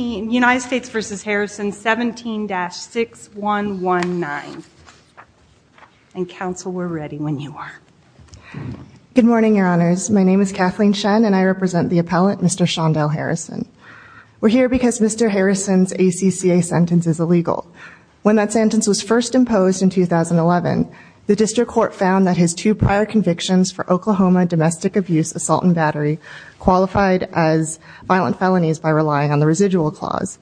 United States v. Harrison 17-6119 and counsel we're ready when you are. Good morning your honors. My name is Kathleen Shen and I represent the appellate Mr. Shondell Harrison. We're here because Mr. Harrison's ACCA sentence is illegal. When that sentence was first imposed in 2011 the district court found that his two prior convictions for Oklahoma domestic abuse assault and battery qualified as violent felonies by relying on the residual clause.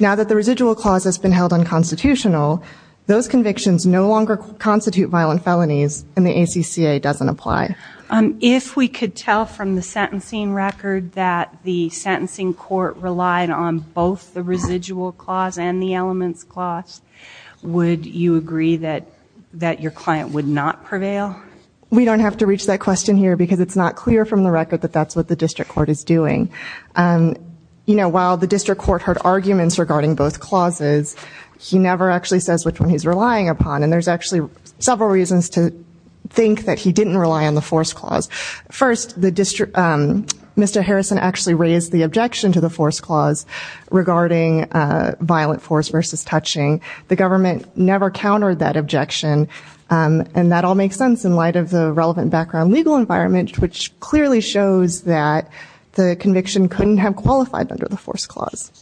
Now that the residual clause has been held unconstitutional those convictions no longer constitute violent felonies and the ACCA doesn't apply. If we could tell from the sentencing record that the sentencing court relied on both the residual clause and the elements clause would you agree that that your client would not prevail? We don't have to reach that question here because it's not clear from the record that that's what the district court is doing. You know while the district court heard arguments regarding both clauses he never actually says which one he's relying upon and there's actually several reasons to think that he didn't rely on the force clause. First the district Mr. Harrison actually raised the objection to the force clause regarding violent force versus touching. The government never countered that objection and that all makes sense in light of the relevant background legal environment which clearly shows that the conviction couldn't have qualified under the force clause.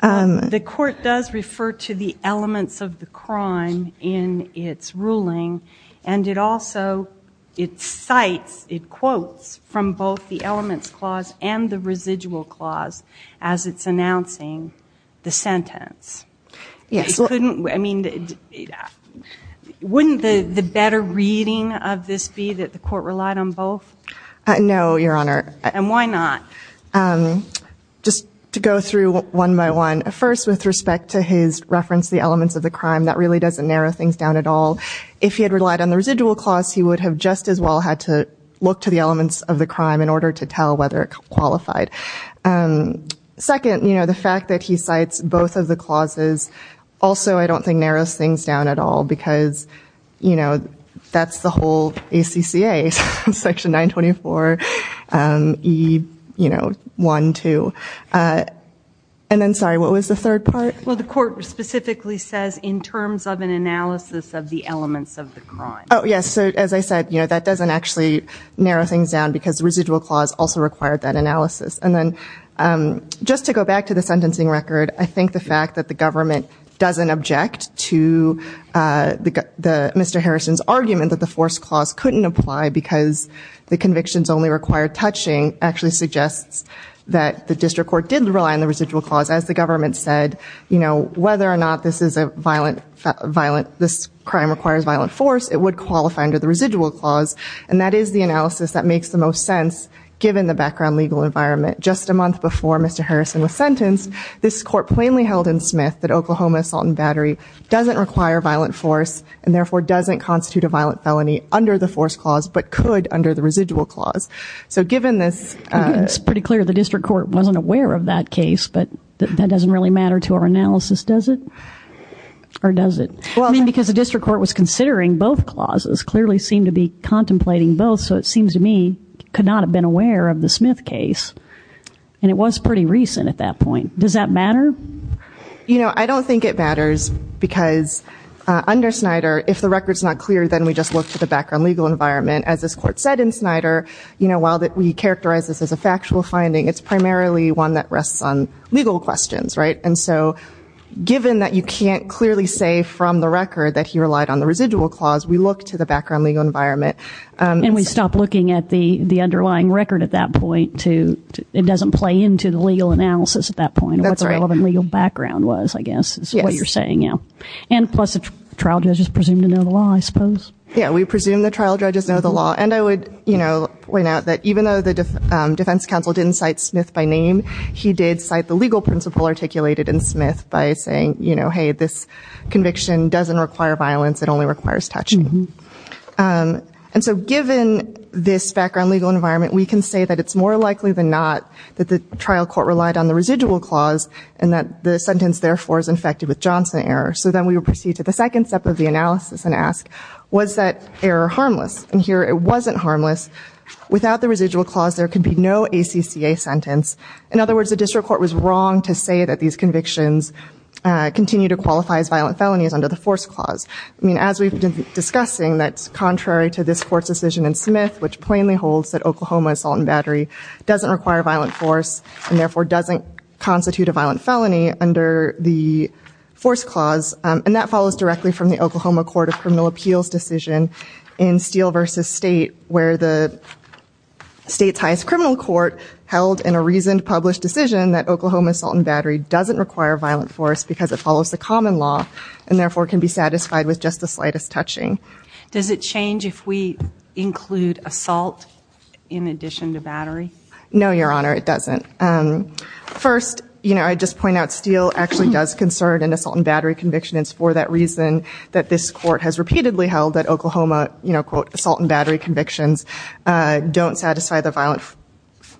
The court does refer to the elements of the crime in its ruling and it also it cites it quotes from both the elements clause and the residual clause as it's announcing the sentence. Yes. Could this be that the court relied on both? No your honor. And why not? Just to go through one by one. First with respect to his reference the elements of the crime that really doesn't narrow things down at all. If he had relied on the residual clause he would have just as well had to look to the elements of the crime in order to tell whether it qualified. Second you know the fact that he cites both of the clauses also I don't think narrows things down at all because you know ACCA section 924 e you know one two and then sorry what was the third part? Well the court specifically says in terms of an analysis of the elements of the crime. Oh yes so as I said you know that doesn't actually narrow things down because residual clause also required that analysis and then just to go back to the sentencing record I think the fact that the government doesn't object to the Mr. Harrison's argument that the force clause couldn't apply because the convictions only required touching actually suggests that the district court didn't rely on the residual clause as the government said you know whether or not this is a violent violent this crime requires violent force it would qualify under the residual clause and that is the analysis that makes the most sense given the background legal environment. Just a month before Mr. Harrison was sentenced this court plainly held in Smith that battery doesn't require violent force and therefore doesn't constitute a violent felony under the force clause but could under the residual clause so given this it's pretty clear the district court wasn't aware of that case but that doesn't really matter to our analysis does it or does it well I mean because the district court was considering both clauses clearly seemed to be contemplating both so it seems to me could not have been aware of the Smith case and it was pretty recent at that point does that matter? You know I don't think it matters because under Snyder if the records not clear then we just look to the background legal environment as this court said in Snyder you know while that we characterize this as a factual finding it's primarily one that rests on legal questions right and so given that you can't clearly say from the record that he relied on the residual clause we look to the background legal environment. And we stop looking at the the underlying record at that point to it doesn't play into the legal analysis at that point what the relevant legal background was I guess is what you're saying yeah and plus the trial judges presumed to know the law I suppose. Yeah we presume the trial judges know the law and I would you know point out that even though the defense counsel didn't cite Smith by name he did cite the legal principle articulated in Smith by saying you know hey this conviction doesn't require violence it only requires touching. And so given this background legal environment we can say that it's more likely than not that the trial court relied on the residual clause and that the sentence therefore is infected with Johnson error. So then we will proceed to the second step of the analysis and ask was that error harmless and here it wasn't harmless without the residual clause there could be no ACCA sentence. In other words the district court was wrong to say that these convictions continue to qualify as violent felonies under the force clause. I mean as we've been discussing that's contrary to this court's decision in Smith which plainly holds that Oklahoma assault and battery doesn't require violent force and therefore doesn't constitute a violent felony under the force clause and that follows directly from the Oklahoma Court of Criminal Appeals decision in Steele versus State where the state's highest criminal court held in a reason to publish decision that Oklahoma assault and battery doesn't require violent force because it follows the common law and therefore can be satisfied with just the slightest touching. Does it change if we include assault in addition to battery? No your honor it doesn't. First you know I just point out Steele actually does concern an assault and battery conviction it's for that reason that this court has repeatedly held that Oklahoma you know quote assault and battery convictions don't satisfy the violent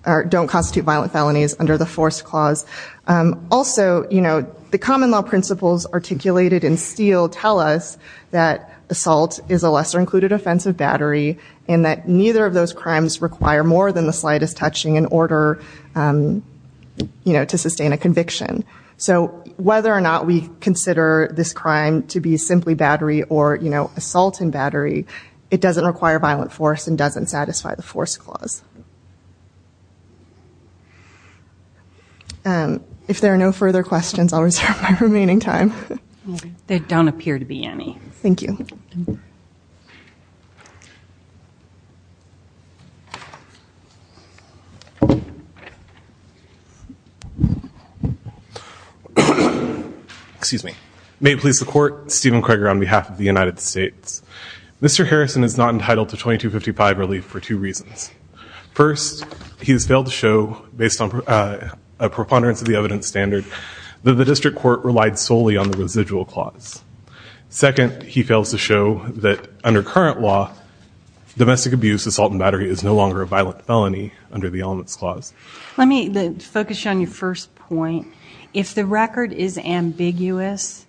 or don't constitute violent felonies under the force clause. Also you know the common law principles articulated in Steele tell us that included offensive battery and that neither of those crimes require more than the slightest touching in order you know to sustain a conviction. So whether or not we consider this crime to be simply battery or you know assault and battery it doesn't require violent force and doesn't satisfy the force clause. If there are no further questions I'll reserve my remaining time. There don't excuse me. May it please the court Stephen Craig on behalf of the United States. Mr. Harrison is not entitled to 2255 relief for two reasons. First he has failed to show based on a preponderance of the evidence standard that the district court relied solely on the residual clause. Second he fails to show that under current law domestic abuse assault and battery is no longer a violent felony under the elements clause. Let me focus on your first point. If the record is ambiguous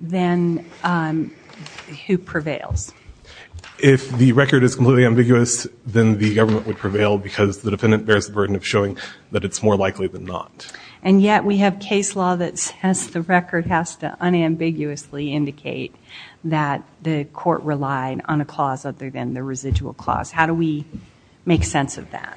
then who prevails? If the record is completely ambiguous then the government would prevail because the defendant bears the burden of showing that it's more likely than not. And yet we have case law that says the record has to unambiguously indicate that the court relied on a clause other than the residual clause. How do we make sense of that?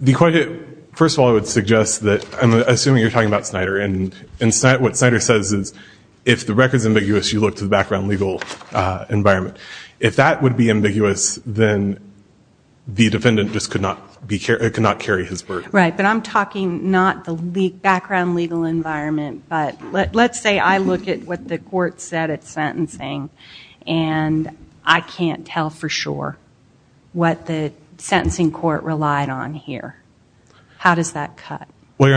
The question, first of all I would suggest that I'm assuming you're talking about Snyder and what Snyder says is if the record is ambiguous you look to the background legal environment. If that would be ambiguous then the background legal environment but let's say I look at what the court said at sentencing and I can't tell for sure what the sentencing court relied on here. How does that cut? Well you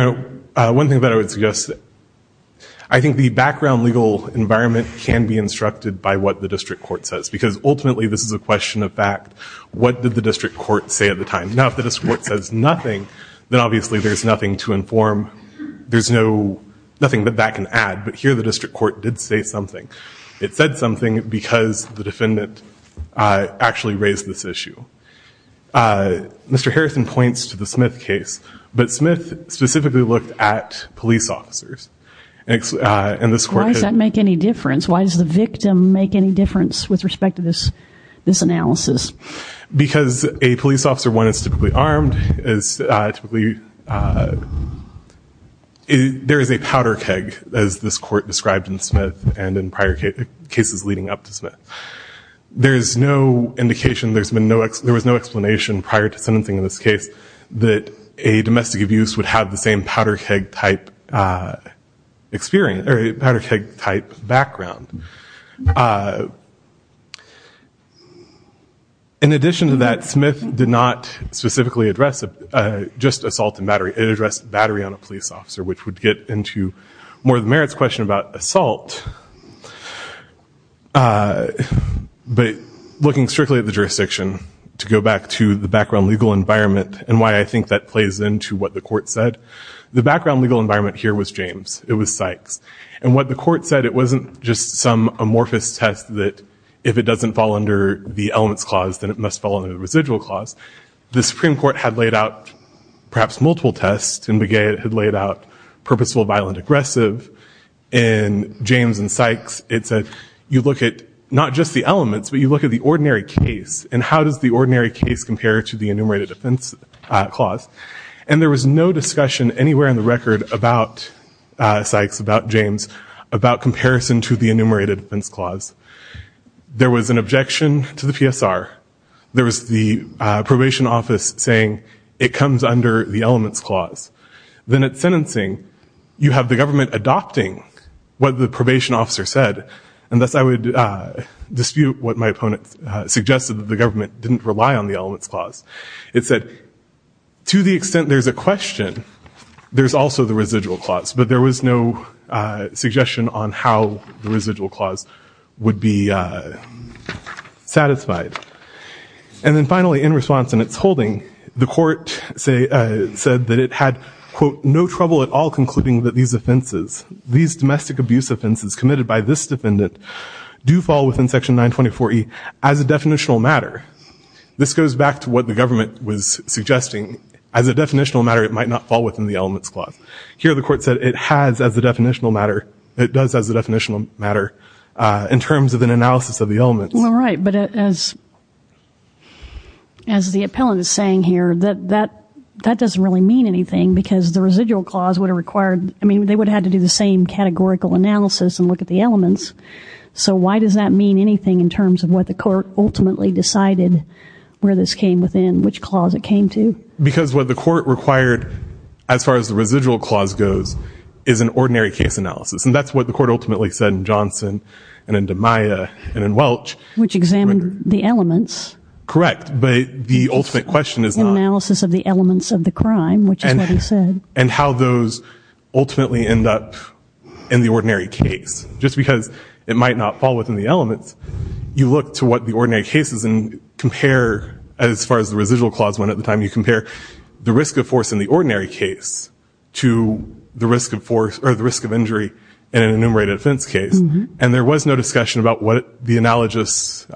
know one thing that I would suggest I think the background legal environment can be instructed by what the district court says because ultimately this is a question of fact. What did the district court say at the time? Now if the district court says nothing then obviously there's nothing to inform. There's nothing that that can add but here the district court did say something. It said something because the defendant actually raised this issue. Mr. Harrison points to the Smith case but Smith specifically looked at police officers. Why does that make any difference? Why does the victim make any difference with respect to this this analysis? Because a police there is a powder keg as this court described in Smith and in prior cases leading up to Smith. There is no indication there's been no there was no explanation prior to sentencing in this case that a domestic abuse would have the same powder keg type experience or a powder keg type background. In addition to that Smith did not specifically address just assault and battery. It addressed battery on a police officer which would get into more the merits question about assault but looking strictly at the jurisdiction to go back to the background legal environment and why I think that plays into what the court said. The background legal environment here was James. It was Sykes and what the court said it wasn't just some amorphous test that if it doesn't fall under the elements clause then it must fall under the residual clause. The Supreme Court had laid out perhaps multiple tests and McGehee had laid out purposeful violent aggressive. In James and Sykes it said you look at not just the elements but you look at the ordinary case and how does the ordinary case compare to the enumerated defense clause and there was no discussion anywhere in the record about Sykes, about James, about comparison to the residual clause. There was an objection to the PSR. There was the probation office saying it comes under the elements clause. Then it's sentencing. You have the government adopting what the probation officer said and thus I would dispute what my opponent suggested that the government didn't rely on the elements clause. It said to the extent there's a question there's also the satisfied and then finally in response and it's holding the court say said that it had quote no trouble at all concluding that these offenses these domestic abuse offenses committed by this defendant do fall within section 9 24e as a definitional matter. This goes back to what the government was suggesting as a definitional matter it might not fall within the elements clause. Here the court said it has as a definitional matter it does as a definitional matter in terms of an analysis of the elements. All right but as as the appellant is saying here that that that doesn't really mean anything because the residual clause would have required I mean they would have to do the same categorical analysis and look at the elements so why does that mean anything in terms of what the court ultimately decided where this came within which clause it came to? Because what the court required as far as the residual clause goes is an ordinary case analysis and that's what the court ultimately said in Johnson and into Maya and in Welch. Which examined the elements. Correct but the ultimate question is analysis of the elements of the crime which is what he said. And how those ultimately end up in the ordinary case just because it might not fall within the elements you look to what the ordinary cases and compare as far as the residual clause went at the time you compare the risk of force in the ordinary case to the risk of force or risk of injury in an enumerated offense case and there was no discussion about what the analogous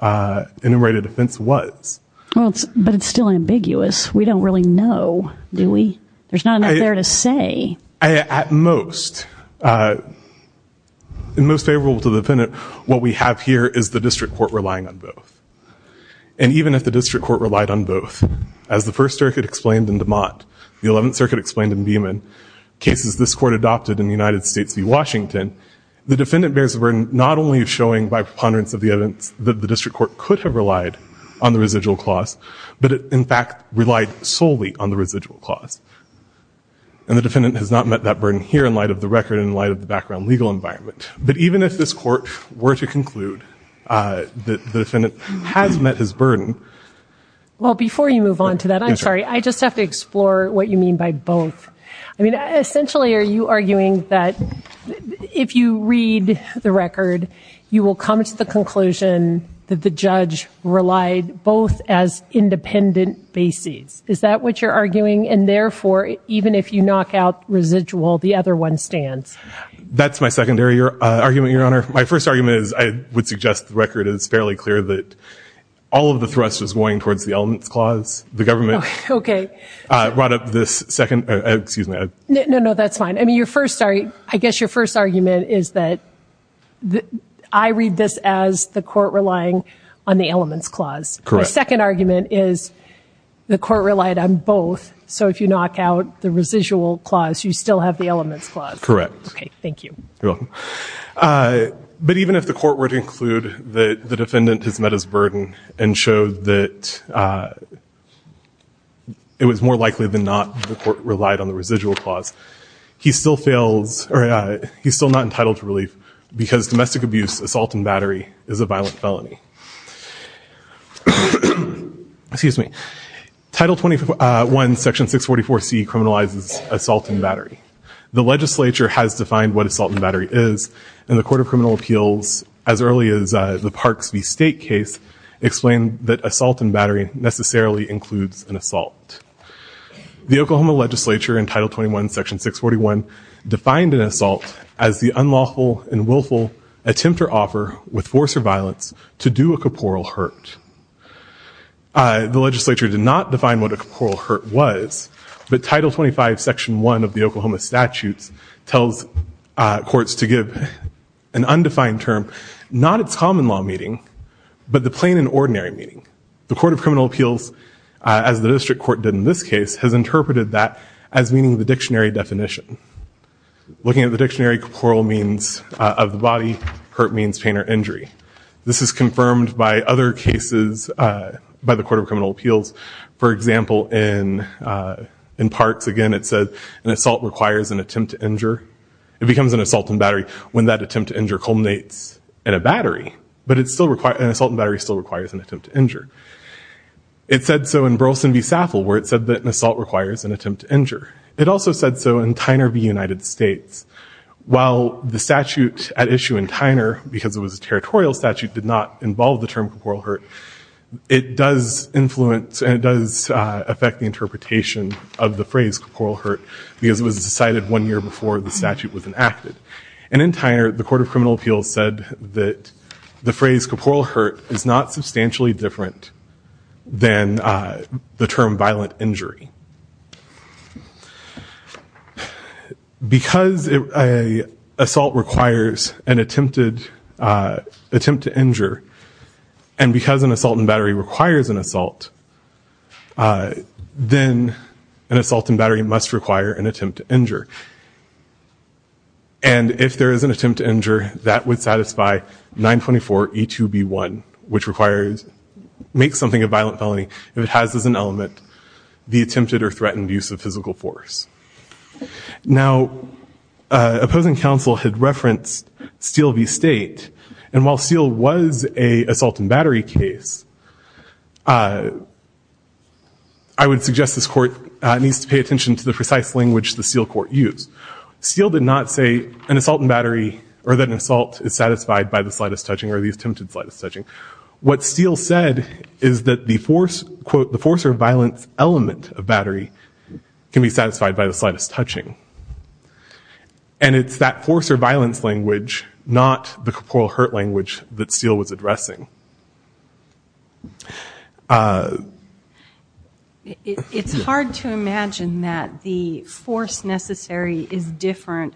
enumerated offense was. Well but it's still ambiguous we don't really know do we? There's not enough there to say. At most in most favorable to the defendant what we have here is the district court relying on both and even if the district court relied on both as the First Circuit explained in DeMond the Eleventh Circuit explained in Beeman cases this court adopted in the United States v. Washington the defendant bears the burden not only of showing by preponderance of the evidence that the district court could have relied on the residual clause but it in fact relied solely on the residual clause. And the defendant has not met that burden here in light of the record in light of the background legal environment. But even if this court were to conclude that the defendant has met his burden. Well before you move on to that I'm sorry I just have to explore what you mean by both. I you arguing that if you read the record you will come to the conclusion that the judge relied both as independent bases. Is that what you're arguing and therefore even if you knock out residual the other one stands? That's my secondary argument your honor. My first argument is I would suggest the record is fairly clear that all of the thrust is going towards the elements clause. The first argument is that I read this as the court relying on the elements clause. The second argument is the court relied on both so if you knock out the residual clause you still have the elements clause. Correct. Okay thank you. But even if the court were to include that the defendant has met his burden and showed that it was more likely than not the court relied on the residual clause. He's still not entitled to relief because domestic abuse assault and battery is a violent felony. Title 21 section 644 C criminalizes assault and battery. The legislature has defined what assault and battery is and the Court of Criminal Appeals as early as the Parks v. State case explained that assault and battery necessarily includes an assault. The Oklahoma legislature in title 21 section 641 defined an assault as the unlawful and willful attempt or offer with force or violence to do a corporeal hurt. The legislature did not define what a corporeal hurt was but title 25 section 1 of the Oklahoma statutes tells courts to give an undefined term not its common law meeting but the plain and ordinary meaning. The Court of Criminal Appeals as the district court did in this case has interpreted that as meaning the dictionary definition. Looking at the dictionary corporeal means of the body hurt means pain or injury. This is confirmed by other cases by the Court of Criminal Appeals for example in in Parks again it said an assault requires an attempt to injure. It becomes an assault and battery when that attempt to injure culminates in a battery but it's still required an assault and battery still requires an attempt to injure. It said so in Burleson v. Saffel where it said that an assault requires an attempt to injure. It also said so in Tyner v. United States. While the statute at issue in Tyner because it was a territorial statute did not involve the term corporeal hurt it does influence and it does affect the interpretation of the phrase corporeal hurt because it was decided one year before the statute was enacted. And in Tyner the Court of Criminal Appeals said that the phrase corporeal hurt is not substantially different than the term violent injury. Because a assault requires an attempted attempt to injure and because an assault and battery requires an assault then an assault and battery must require an attempt to injure. And if there is an make something a violent felony if it has as an element the attempted or threatened use of physical force. Now opposing counsel had referenced Steele v. State and while Steele was a assault and battery case I would suggest this court needs to pay attention to the precise language the Steele court used. Steele did not say an assault and battery or that an assault is satisfied by the attempted slightest touching. What Steele said is that the force quote the force or violence element of battery can be satisfied by the slightest touching. And it's that force or violence language not the corporeal hurt language that Steele was addressing. It's hard to imagine that the force necessary is different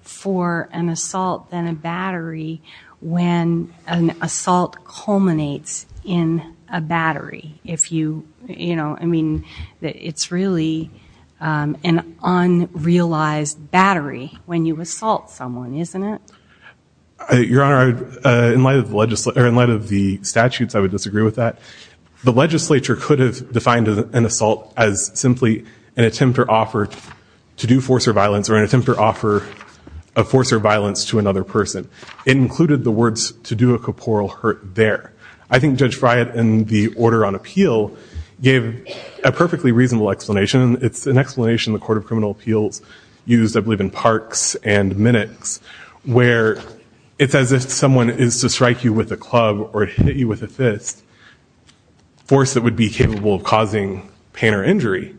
for an assault than a battery when an assault culminates in a battery. If you you know I mean that it's really an unrealized battery when you assault someone isn't it? Your Honor in light of the legislator in light of the statutes I would disagree with that. The legislature could have defined an assault as simply an attempt or offer to do force or violence or an attempt or offer of force or violence to another person. It included the words to do a corporeal hurt there. I think Judge Friot in the order on appeal gave a perfectly reasonable explanation. It's an explanation the Court of Criminal Appeals used I believe in Parks and Minnix where it's as if someone is to strike you with a club or hit you with a fist. Force that would be capable of causing pain or injury.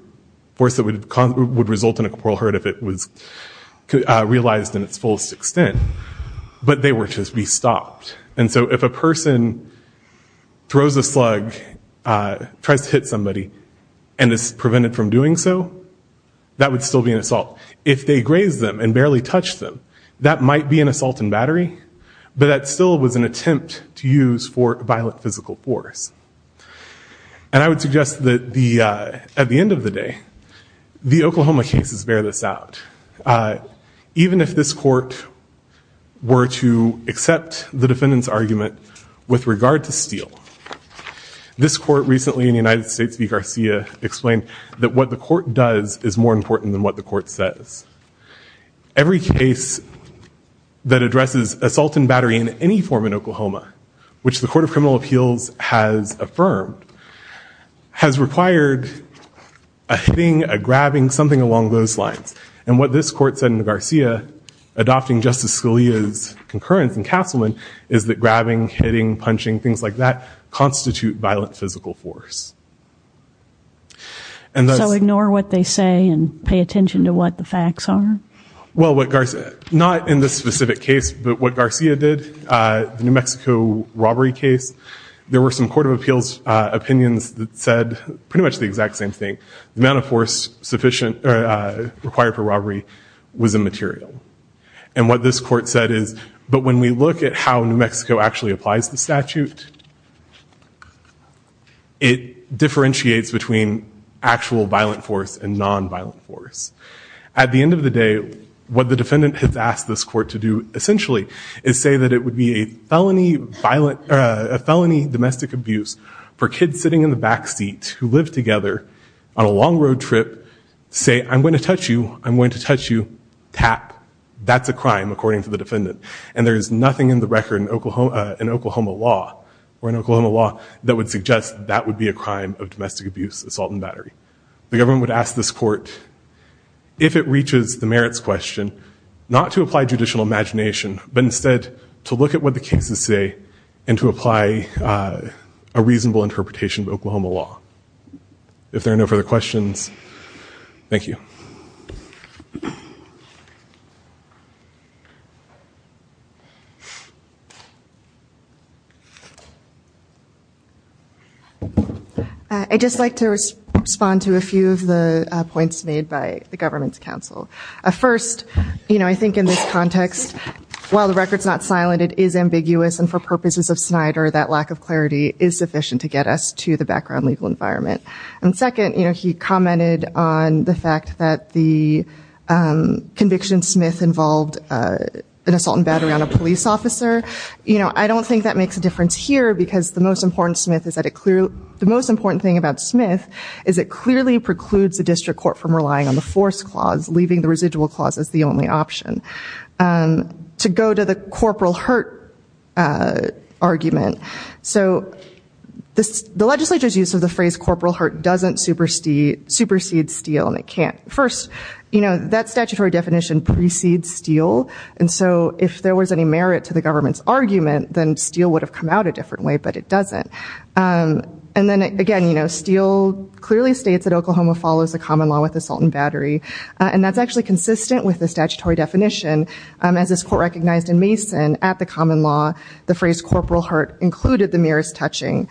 Force that would result in a corporeal hurt if it was realized in its fullest extent but they were to be stopped and so if a person throws a slug tries to hit somebody and is prevented from doing so that would still be an assault. If they grazed them and barely touched them that might be an assault and battery but that still was an attempt to use for violent physical force and I would suggest that the at least in some cases bear this out. Even if this court were to accept the defendant's argument with regard to steal this court recently in the United States v. Garcia explained that what the court does is more important than what the court says. Every case that addresses assault and battery in any form in Oklahoma which the Court of Criminal Appeals has affirmed has required a grabbing something along those lines and what this court said in the Garcia adopting Justice Scalia's concurrence in Castleman is that grabbing, hitting, punching, things like that constitute violent physical force. And so ignore what they say and pay attention to what the facts are? Well what Garcia not in this specific case but what Garcia did the New Mexico robbery case there were some Court of Appeals opinions that said pretty much the exact same thing. The force sufficient required for robbery was immaterial and what this court said is but when we look at how New Mexico actually applies the statute it differentiates between actual violent force and nonviolent force. At the end of the day what the defendant has asked this court to do essentially is say that it would be a felony domestic abuse for kids sitting in the road trip say I'm going to touch you I'm going to touch you tap that's a crime according to the defendant and there's nothing in the record in Oklahoma law or in Oklahoma law that would suggest that would be a crime of domestic abuse assault and battery. The government would ask this court if it reaches the merits question not to apply judicial imagination but instead to look at what the cases say and to apply a reasonable interpretation of Oklahoma law. If there are no further questions, thank you. I just like to respond to a few of the points made by the government's counsel. First you know I think in this context while the records not silent it is ambiguous and for purposes of Snyder that lack of clarity is sufficient to get us to the background legal environment and second you know he commented on the fact that the conviction Smith involved an assault and battery on a police officer you know I don't think that makes a difference here because the most important Smith is that it clearly the most important thing about Smith is it clearly precludes the district court from relying on the force clause leaving the residual clause as the only option. To go to the corporal hurt argument so this the legislature's use of the phrase corporal hurt doesn't supersede steel and it can't. First you know that statutory definition precedes steel and so if there was any merit to the government's argument then steel would have come out a different way but it doesn't and then again you know steel clearly states that Oklahoma follows the common law with assault and battery and that's actually consistent with the statutory definition as this court recognized in Mason at the common law the phrase corporal hurt included the merest touching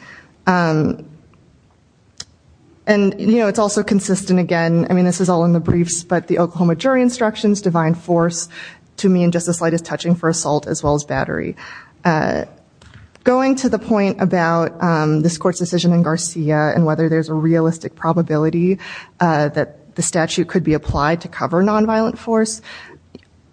and you know it's also consistent again I mean this is all in the briefs but the Oklahoma jury instructions divine force to me in just the slightest touching for assault as well as battery. Going to the point about this court's decision in Garcia and whether there's a realistic probability that the statute could be applied to cover nonviolent force.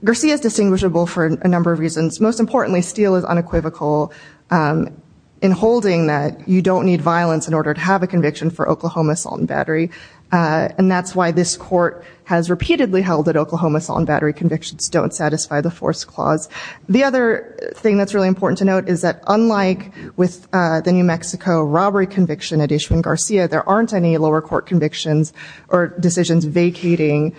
Garcia is a number of reasons most importantly steel is unequivocal in holding that you don't need violence in order to have a conviction for Oklahoma assault and battery and that's why this court has repeatedly held that Oklahoma assault and battery convictions don't satisfy the force clause. The other thing that's really important to note is that unlike with the New Mexico robbery conviction at Ishmael Garcia there aren't any lower court convictions or decisions vacating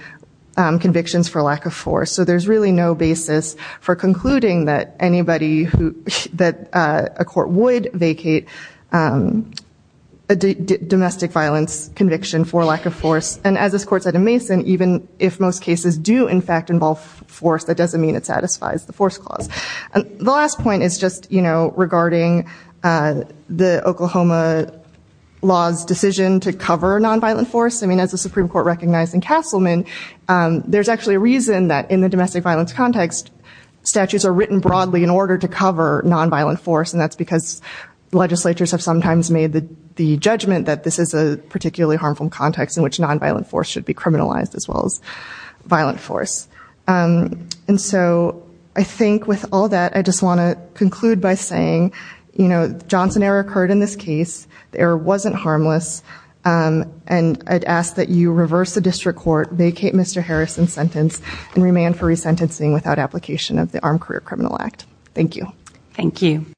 convictions for lack of force so there's really no basis for concluding that anybody who that a court would vacate a domestic violence conviction for lack of force and as this court said in Mason even if most cases do in fact involve force that doesn't mean it satisfies the force clause. The last point is just you know regarding the Oklahoma laws decision to cover nonviolent force I mean as the Supreme Court recognized in Castleman there's actually a reason that in the domestic violence context statutes are written broadly in order to cover nonviolent force and that's because legislatures have sometimes made the judgment that this is a particularly harmful context in which nonviolent force should be criminalized as well as violent force and so I think with all that I just want to conclude by saying you know Johnson error occurred in this and I'd ask that you reverse the district court vacate Mr. Harris in sentence and remand for resentencing without application of the Armed Career Criminal Act. Thank you. Thank you.